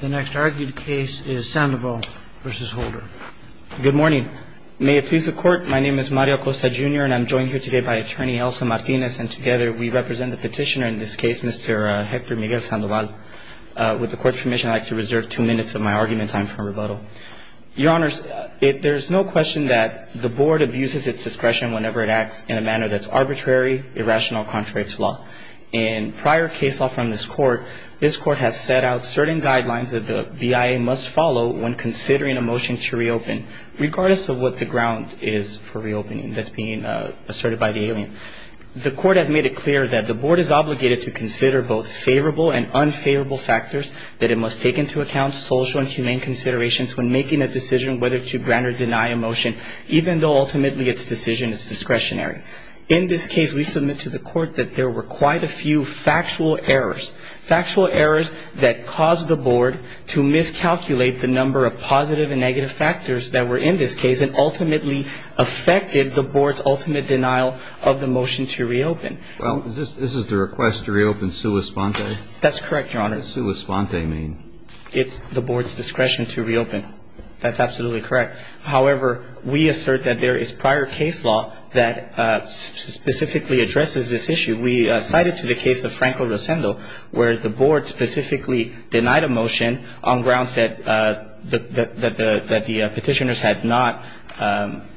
The next argued case is Sandoval v. Holder. Good morning. May it please the court. My name is Mario Acosta, Jr. And I'm joined here today by Attorney Elsa Martinez. And together, we represent the petitioner in this case, Mr. Hector Miguel Sandoval. With the court's permission, I'd like to reserve two minutes of my argument time for rebuttal. Your Honors, there's no question that the board abuses its discretion whenever it acts in a manner that's arbitrary, irrational, contrary to law. In prior case law from this court, this court has set out certain guidelines that the BIA must follow when considering a motion to reopen, regardless of what the ground is for reopening that's being asserted by the alien. The court has made it clear that the board is obligated to consider both favorable and unfavorable factors, that it must take into account social and humane considerations when making a decision whether to grant or deny a motion, even though ultimately its decision is discretionary. In this case, we submit to the court that there were quite a few factual errors, factual errors that caused the board to miscalculate the number of positive and negative factors that were in this case, and ultimately affected the board's ultimate denial of the motion to reopen. Well, this is the request to reopen sua sponte? That's correct, Your Honor. What does sua sponte mean? It's the board's discretion to reopen. That's absolutely correct. However, we assert that there is prior case law that specifically addresses this issue. We cited to the case of Franco Rosendo, where the board specifically denied a motion on grounds that the petitioners had not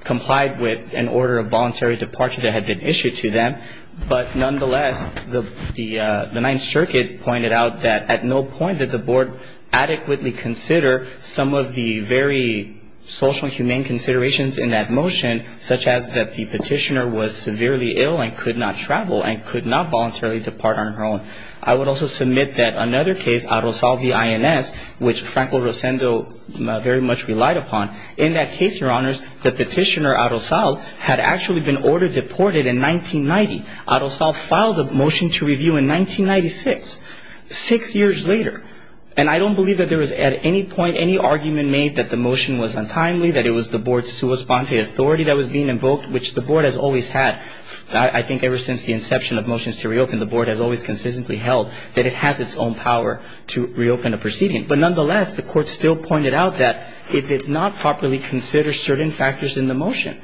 complied with an order of voluntary departure that had been issued to them. But nonetheless, the Ninth Circuit pointed out that at no point did the board adequately consider some of the very social and humane considerations in that motion, such as that the petitioner was severely ill and could not travel and could not voluntarily depart on her own. I would also submit that another case, Arosal v. INS, which Franco Rosendo very much relied upon, in that case, Your Honors, the petitioner, Arosal, had actually been ordered deported in 1990. Arosal filed a motion to review in 1996, six years later. And I don't believe that there was at any point any argument made that the motion was untimely, that it was the board's sua sponte authority that was being invoked, which the board has always had. I think ever since the inception of Motions to Reopen, the board has always consistently held that it has its own power to reopen a proceeding. But nonetheless, the court still pointed out that it did not properly consider certain factors in the motion.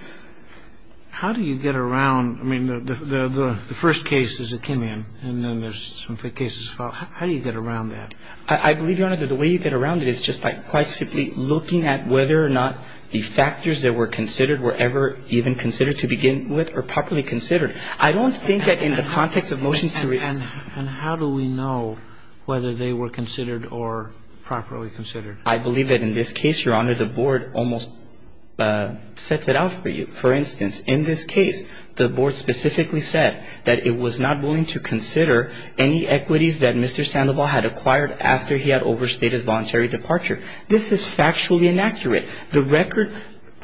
How do you get around, I mean, the first case is Akinion, and then there's some cases followed. How do you get around that? I believe, Your Honor, that the way you get around it is just by quite simply looking at whether or not the factors that were considered were ever even considered to begin with or properly considered. I don't think that in the context of Motions to Reopen And how do we know whether they were considered or properly considered? I believe that in this case, Your Honor, the board almost sets it out for you. For instance, in this case, the board specifically said that it was not willing to consider any equities that Mr. Sandoval had acquired after he had overstated voluntary departure. This is factually inaccurate. The record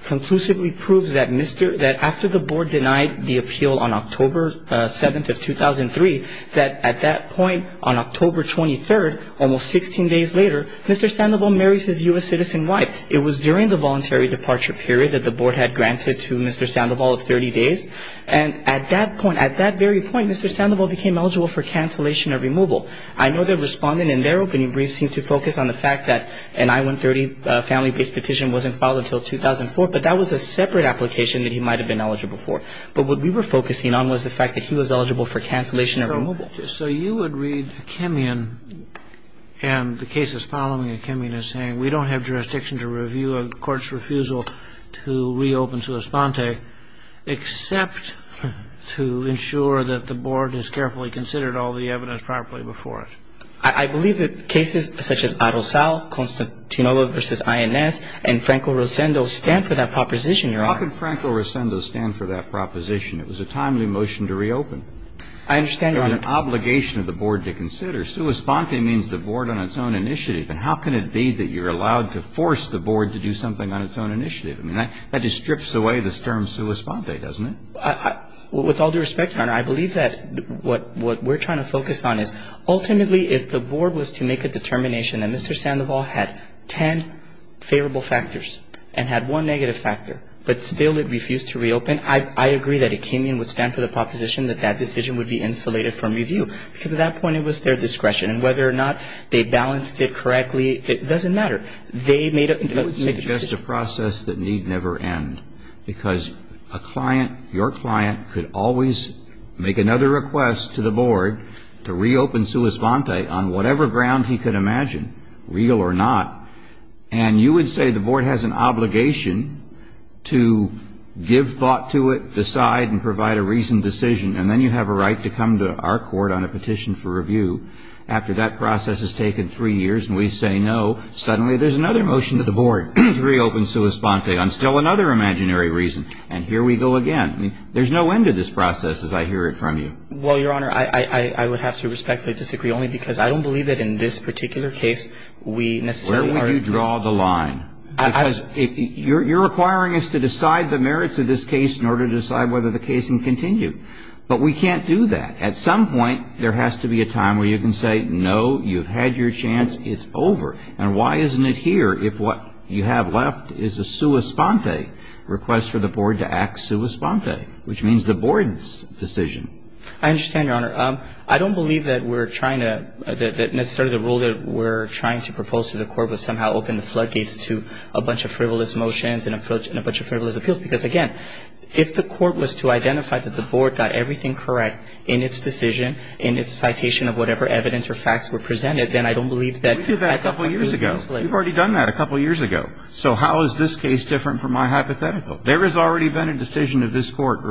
conclusively proves that after the board denied the appeal on October 7th of 2003, that at that point, on October 23rd, almost 16 days later, Mr. Sandoval marries his U.S. citizen wife. It was during the voluntary departure period that the board had granted to Mr. Sandoval of 30 days. And at that point, at that very point, Mr. Sandoval became eligible for cancellation or removal. I know that Respondent, in their opening brief, seemed to focus on the fact that an I-130 family-based petition wasn't filed until 2004, but that was a separate application that he might have been eligible for. But what we were focusing on was the fact that he was eligible for cancellation or removal. So you would read Akemian and the cases following Akemian as saying we don't have jurisdiction to review a court's refusal to reopen to Esponte except to ensure that the board has carefully considered all the evidence properly before it. I believe that cases such as Arrozal, Constantinolo v. INS, and Franco-Rosendo stand for that proposition, Your Honor. How could Franco-Rosendo stand for that proposition? It was a timely motion to reopen. I understand, Your Honor. It was an obligation of the board to consider. Su Esponte means the board on its own initiative. And how can it be that you're allowed to force the board to do something on its own initiative? I mean, that just strips away the term Su Esponte, doesn't it? With all due respect, Your Honor, I believe that what we're trying to focus on is ultimately if the board was to make a determination that Mr. Sandoval had 10 favorable factors and had one negative factor, but still it refused to reopen, I agree that Akemian would stand for the proposition that that decision would be insulated from review because at that point it was their discretion. And whether or not they balanced it correctly, it doesn't matter. They made a decision. It would suggest a process that need never end because a client, your client, could always make another request to the board to reopen Su Esponte on whatever ground he could imagine, real or not. And you would say the board has an obligation to give thought to it, decide, and provide a reasoned decision. And then you have a right to come to our court on a petition for review after that process has taken three years. And we say no. Suddenly there's another motion to the board to reopen Su Esponte on still another imaginary reason. And here we go again. There's no end to this process as I hear it from you. Well, Your Honor, I would have to respectfully disagree only because I don't believe that in this particular case we necessarily are Where would you draw the line? Because you're requiring us to decide the merits of this case in order to decide whether the case can continue. But we can't do that. At some point there has to be a time where you can say, No, you've had your chance. It's over. And why isn't it here if what you have left is a Su Esponte request for the board to act Su Esponte? Which means the board's decision. I understand, Your Honor. I don't believe that we're trying to, that necessarily the rule that we're trying to propose to the court would somehow open the floodgates to a bunch of frivolous motions and a bunch of frivolous appeals. Because, again, if the court was to identify that the board got everything correct in its decision, in its citation of whatever evidence or facts were presented, then I don't believe that We did that a couple years ago. We've already done that a couple years ago. So how is this case different from my hypothetical? There has already been a decision of this court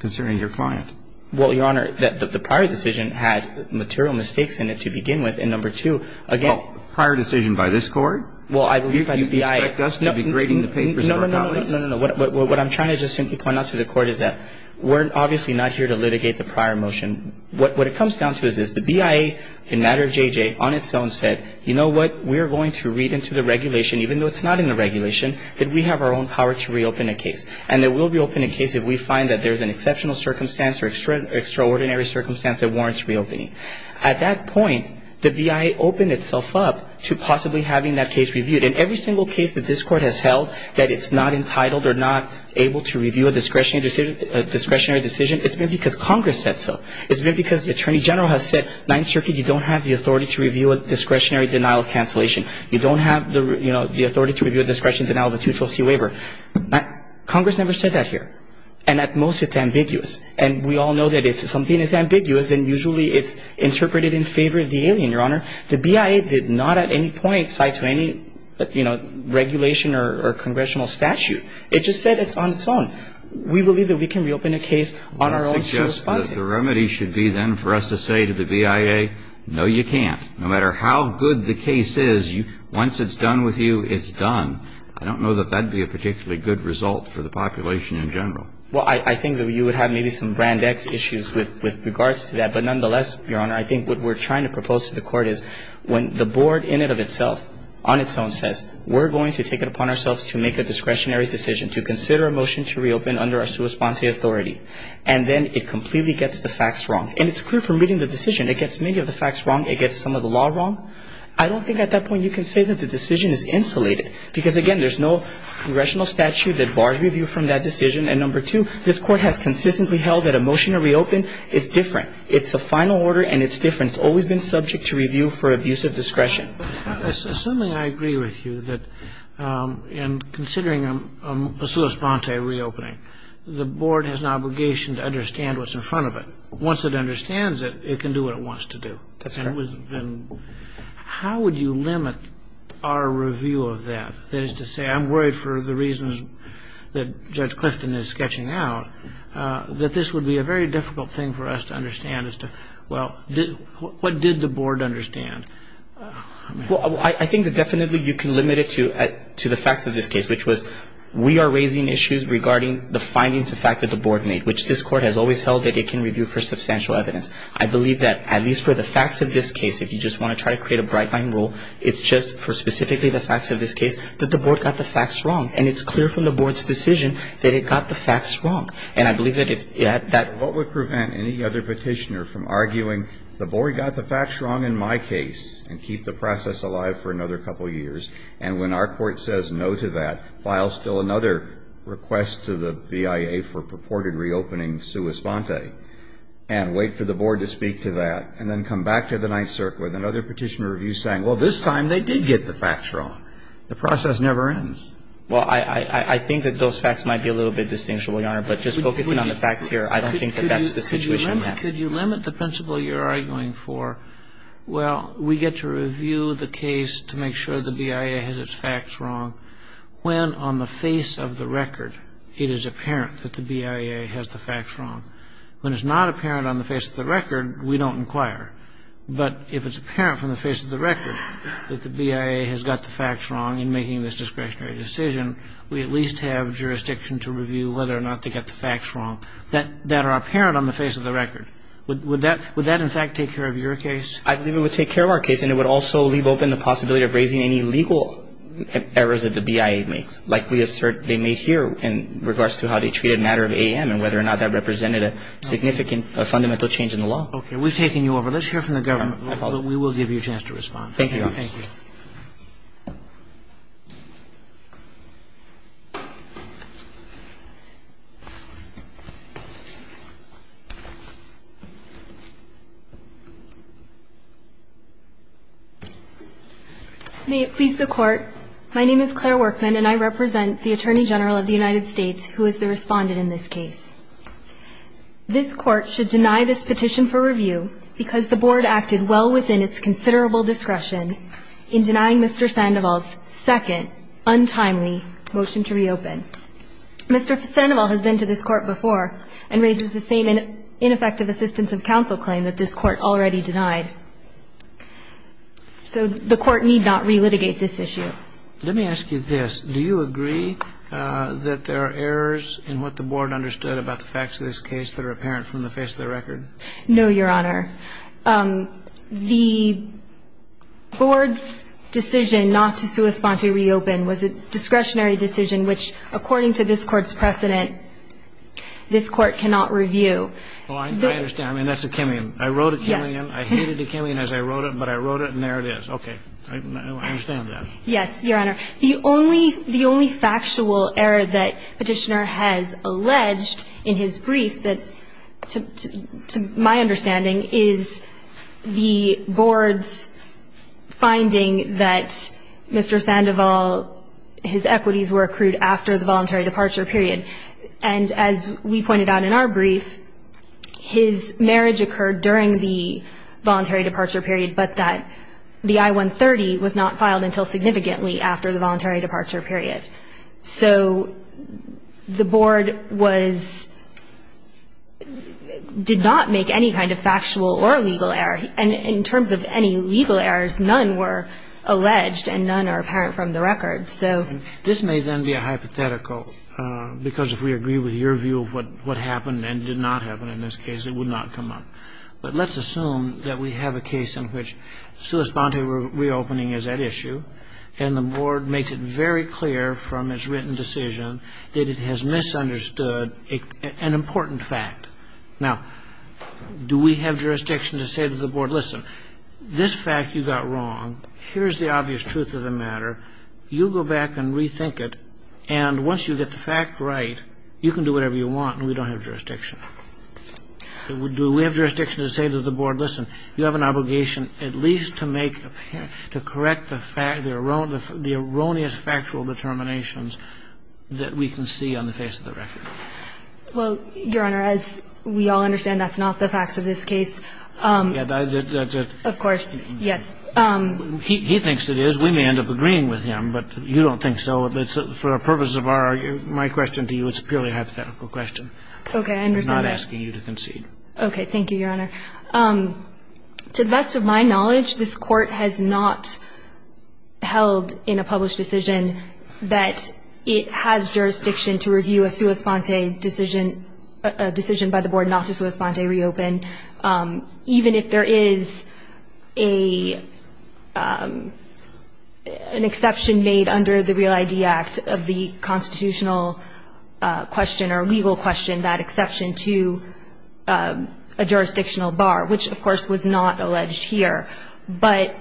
concerning your client. Well, Your Honor, the prior decision had material mistakes in it to begin with. And number two, again Well, prior decision by this court? Well, I believe by the BIA You expect us to be grading the papers of our colleagues? No, no, no. What I'm trying to just simply point out to the court is that we're obviously not here to litigate the prior motion. What it comes down to is this. The BIA, in matter of JJ, on its own said, You know what? We're going to read into the regulation, even though it's not in the regulation, that we have our own power to reopen a case. And it will reopen a case if we find that there's an exceptional circumstance or extraordinary circumstance that warrants reopening. At that point, the BIA opened itself up to possibly having that case reviewed. In every single case that this court has held that it's not entitled or not able to review a discretionary decision, it's been because Congress said so. It's been because the Attorney General has said, Ninth Circuit, you don't have the authority to review a discretionary denial of cancellation. You don't have the authority to review a discretionary denial of a two-trustee waiver. Congress never said that here. And at most, it's ambiguous. And we all know that if something is ambiguous, then usually it's interpreted in favor of the alien, Your Honor. The BIA did not at any point cite to any, you know, regulation or congressional statute. It just said it's on its own. We believe that we can reopen a case on our own to respond to it. I suggest that the remedy should be, then, for us to say to the BIA, no, you can't. No matter how good the case is, once it's done with you, it's done. I don't know that that would be a particularly good result for the population in general. Well, I think that you would have maybe some brand X issues with regards to that. But nonetheless, Your Honor, I think what we're trying to propose to the Court is when the Board in and of itself, on its own, says, we're going to take it upon ourselves to make a discretionary decision to consider a motion to reopen under our sua sponte authority. And then it completely gets the facts wrong. And it's clear from reading the decision. It gets many of the facts wrong. It gets some of the law wrong. I don't think at that point you can say that the decision is insulated. Because, again, there's no congressional statute that bars review from that decision. And number two, this Court has consistently held that a motion to reopen is different. It's a final order, and it's different. And it's always been subject to review for abuse of discretion. Assuming I agree with you that in considering a sua sponte reopening, the Board has an obligation to understand what's in front of it. Once it understands it, it can do what it wants to do. That's correct. How would you limit our review of that? That is to say, I'm worried for the reasons that Judge Clifton is sketching out that this would be a very difficult thing for us to understand. Well, what did the Board understand? Well, I think that definitely you can limit it to the facts of this case, which was we are raising issues regarding the findings of fact that the Board made, which this Court has always held that it can review for substantial evidence. I believe that at least for the facts of this case, if you just want to try to create a bright-line rule, it's just for specifically the facts of this case that the Board got the facts wrong. And it's clear from the Board's decision that it got the facts wrong. What would prevent any other petitioner from arguing, the Board got the facts wrong in my case, and keep the process alive for another couple of years, and when our Court says no to that, file still another request to the BIA for purported reopening sua sponte, and wait for the Board to speak to that, and then come back to the Ninth Circuit with another petitioner review saying, well, this time they did get the facts wrong. The process never ends. Well, I think that those facts might be a little bit distinguishable, Your Honor, but just focusing on the facts here, I don't think that that's the situation. Could you limit the principle you're arguing for? Well, we get to review the case to make sure the BIA has its facts wrong when on the face of the record it is apparent that the BIA has the facts wrong. When it's not apparent on the face of the record, we don't inquire. But if it's apparent from the face of the record that the BIA has got the facts wrong in making this discretionary decision, we at least have jurisdiction to review whether or not they got the facts wrong that are apparent on the face of the record. Would that, in fact, take care of your case? I believe it would take care of our case, and it would also leave open the possibility of raising any legal errors that the BIA makes, like we assert they made here in regards to how they treated a matter of AM and whether or not that represented a significant fundamental change in the law. Okay, we've taken you over. Let's hear from the government. We will give you a chance to respond. Thank you, Your Honor. Thank you. Thank you. May it please the Court, my name is Claire Workman and I represent the Attorney General of the United States who is the respondent in this case. This Court should deny this petition for review because the Board acted well within its considerable discretion in denying Mr. Sandoval's second untimely motion to reopen. Mr. Sandoval has been to this Court before and raises the same ineffective assistance of counsel claim that this Court already denied. So the Court need not re-litigate this issue. Let me ask you this. Do you agree that there are errors in what the Board understood about the facts of this case that are apparent from the face of the record? No, Your Honor. The Board's decision not to respond to reopen was a discretionary decision which, according to this Court's precedent, this Court cannot review. Oh, I understand. I mean, that's a Kimmian. I wrote a Kimmian. Yes. I hated the Kimmian as I wrote it, but I wrote it and there it is. Okay. I understand that. Yes, Your Honor. The only factual error that Petitioner has alleged in his brief that, to my understanding, is the Board's finding that Mr. Sandoval, his equities were accrued after the voluntary departure period. And as we pointed out in our brief, his marriage occurred during the voluntary departure period, but that the I-130 was not filed until significantly after the voluntary departure period. So the Board did not make any kind of factual or legal error. And in terms of any legal errors, none were alleged and none are apparent from the record. This may then be a hypothetical because if we agree with your view of what happened and did not happen in this case, it would not come up. But let's assume that we have a case in which sui sponte reopening is at issue and the Board makes it very clear from its written decision that it has misunderstood an important fact. Now, do we have jurisdiction to say to the Board, listen, this fact you got wrong, here's the obvious truth of the matter, you go back and rethink it and once you get the fact right, you can do whatever you want and we don't have jurisdiction. Do we have jurisdiction to say to the Board, listen, you have an obligation at least to correct the erroneous factual determinations that we can see on the face of the record? Well, Your Honor, as we all understand, that's not the facts of this case. Yeah, that's it. Of course, yes. He thinks it is. We may end up agreeing with him, but you don't think so. For the purposes of my question to you, it's a purely hypothetical question. Okay, I understand that. I'm not asking you to concede. Okay, thank you, Your Honor. To the best of my knowledge, this Court has not held in a published decision that it has jurisdiction to review a sua sponte decision, a decision by the Board not to sua sponte reopen, even if there is an exception made under the Real ID Act of the constitutional question or legal question, and that exception to a jurisdictional bar, which, of course, was not alleged here. But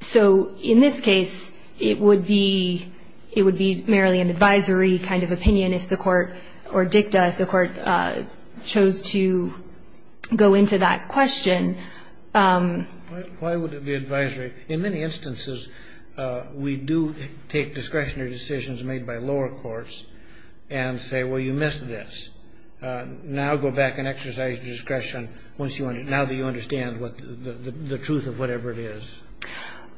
so in this case, it would be merely an advisory kind of opinion if the Court or dicta if the Court chose to go into that question. Why would it be advisory? In many instances, we do take discretionary decisions made by lower courts and say, well, you missed this. Now go back and exercise your discretion once you understand, now that you understand the truth of whatever it is.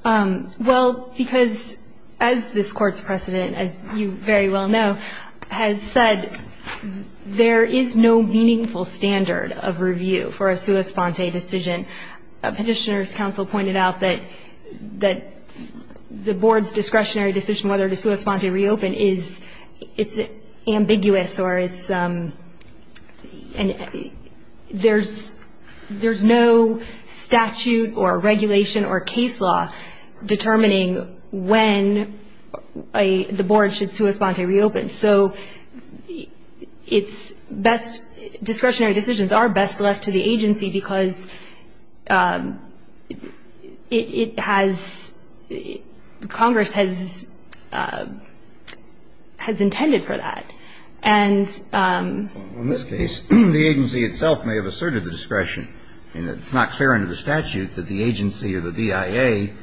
Well, because as this Court's precedent, as you very well know, has said, there is no meaningful standard of review for a sua sponte decision. Petitioner's counsel pointed out that the Board's discretionary decision whether to sua sponte reopen is ambiguous or there's no statute or regulation or case law determining when the Board should sua sponte reopen. So discretionary decisions are best left to the agency because it has the Congress has intended for that. And In this case, the agency itself may have asserted the discretion. It's not clear under the statute that the agency or the BIA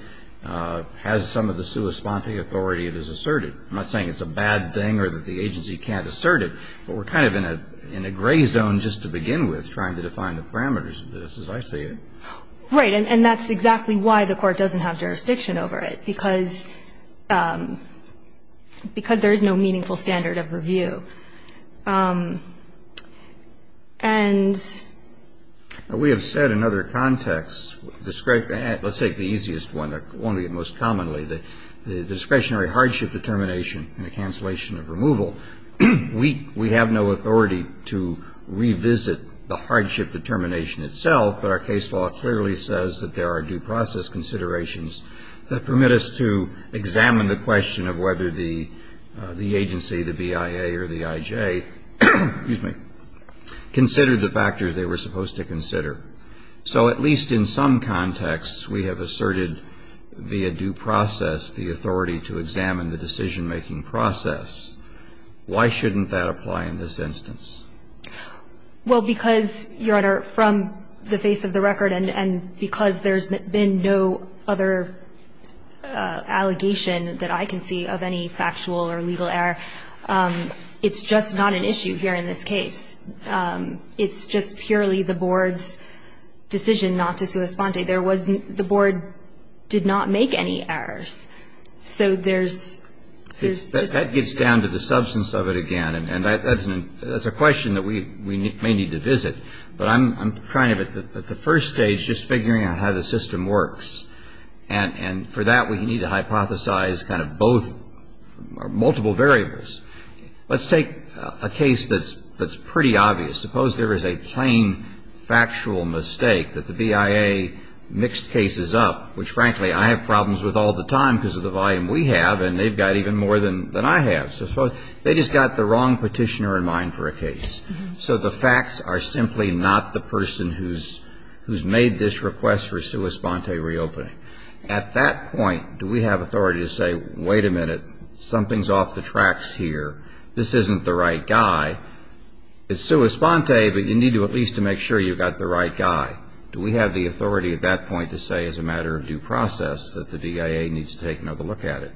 has some of the sua sponte authority that is asserted. I'm not saying it's a bad thing or that the agency can't assert it, but we're kind of in a gray zone just to begin with trying to define the parameters of this as I see it. Right. And that's exactly why the Court doesn't have jurisdiction over it, because there is no meaningful standard of review. And We have said in other contexts, let's take the easiest one, the one we get most commonly, the discretionary hardship determination and the cancellation of removal. We have no authority to revisit the hardship determination itself, but our case law clearly says that there are due process considerations that permit us to examine the question of whether the agency, the BIA or the IJ, excuse me, considered the factors they were supposed to consider. So at least in some contexts, we have asserted via due process, the authority to examine the decision-making process. Why shouldn't that apply in this instance? Well, because, Your Honor, from the face of the record and because there's been no other allegation that I can see of any factual or legal error, it's just not an issue here in this case. It's just purely the Board's decision not to sua sponte. There wasn't, the Board did not make any errors. So there's That gets down to the substance of it again. And that's a question that we may need to visit. But I'm trying to, at the first stage, just figuring out how the system works. And for that, we need to hypothesize kind of both or multiple variables. Let's take a case that's pretty obvious. Suppose there is a plain factual mistake that the BIA mixed cases up, which, frankly, I have problems with all the time because of the volume we have, and they've got even more than I have. So suppose they just got the wrong petitioner in mind for a case. So the facts are simply not the person who's made this request for sua sponte reopening. At that point, do we have authority to say, wait a minute, something's off the tracks here. This isn't the right guy. It's sua sponte, but you need to at least to make sure you've got the right guy. Do we have the authority at that point to say, as a matter of due process, that the BIA needs to take another look at it?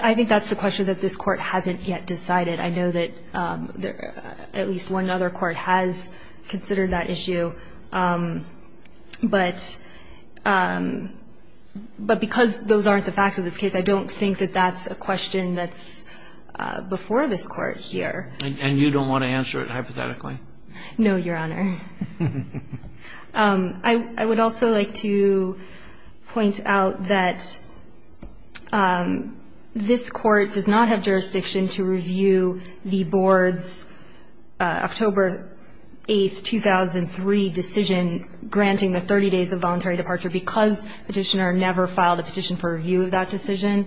I think that's a question that this Court hasn't yet decided. I know that at least one other Court has considered that issue. But because those aren't the facts of this case, I don't think that that's a question that's before this Court here. And you don't want to answer it hypothetically? No, Your Honor. I would also like to point out that this Court does not have jurisdiction to review the Board's October 8, 2003 decision granting the 30 days of voluntary departure because the petitioner never filed a petition for review of that decision.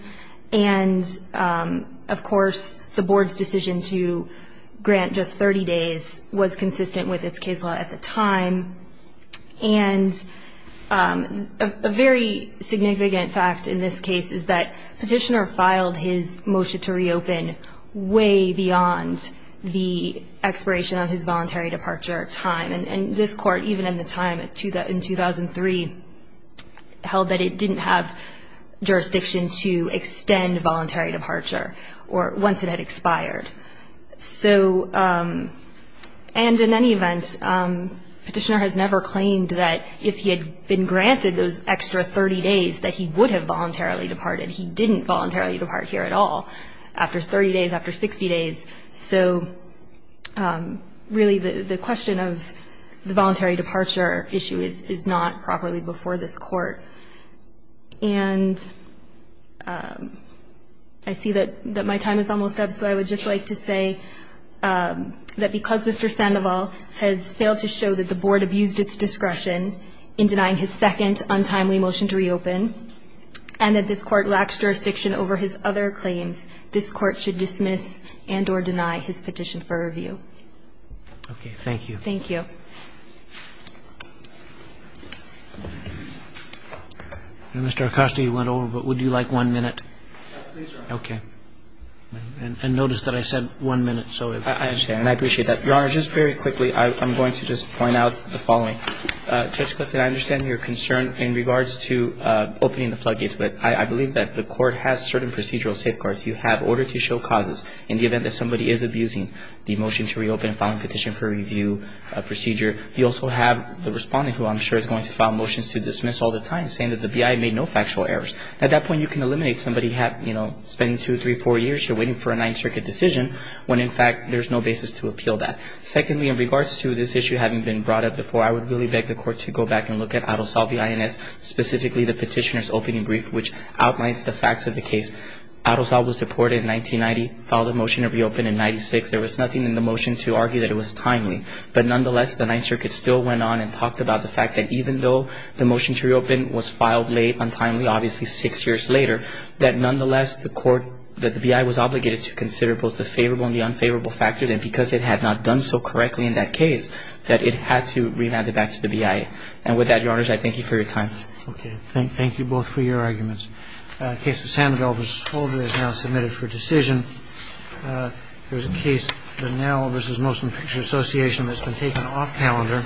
And, of course, the Board's decision to grant just 30 days was consistent with its case law at the time. And a very significant fact in this case is that the petitioner filed his motion to reopen way beyond the expiration of his voluntary departure time. And this Court, even in the time in 2003, held that it didn't have jurisdiction to extend voluntary departure once it had expired. And in any event, the petitioner has never claimed that if he had been granted those extra 30 days, that he would have voluntarily departed. He didn't voluntarily depart here at all after 30 days, after 60 days. So, really, the question of the voluntary departure issue is not properly before this Court. And I see that my time is almost up, so I would just like to say that because Mr. Sandoval has failed to show that the Board abused its discretion in denying his second untimely motion to reopen and that this Court lacks jurisdiction over his other claims, this Court should dismiss and or deny his petition for review. Okay. Thank you. Thank you. Mr. Acosta, you went over, but would you like one minute? Please, Your Honor. Okay. And notice that I said one minute. I understand. And I appreciate that. Your Honor, just very quickly, I'm going to just point out the following. Judge Clifton, I understand your concern in regards to opening the floodgates, but I believe that the Court has certain procedural safeguards. You have order to show causes in the event that somebody is abusing the motion to reopen and filing petition for review procedure. You also have the respondent, who I'm sure is going to file motions to dismiss all the time, saying that the BIA made no factual errors. At that point, you can eliminate somebody spending two, three, four years waiting for a Ninth Circuit decision when, in fact, there's no basis to appeal that. Secondly, in regards to this issue having been brought up before, I would really beg the Court to go back and look at Adelsob, the INS, specifically the petitioner's opening brief, which outlines the facts of the case. Adelsob was deported in 1990, filed a motion to reopen in 1996. There was nothing in the motion to argue that it was timely. But nonetheless, the Ninth Circuit still went on and talked about the fact that even though the motion to reopen was filed late, untimely, obviously six years later, that nonetheless, the BIA was obligated to consider both the favorable and the unfavorable factors in the decision, because it had not done so correctly in that case that it had to remand it back to the BIA. And with that, Your Honors, I thank you for your time. Okay. Thank you both for your arguments. Case of Sandville v. Scholder is now submitted for decision. There's a case, the Nell v. Molson Picture Association, that's been taken off calendar.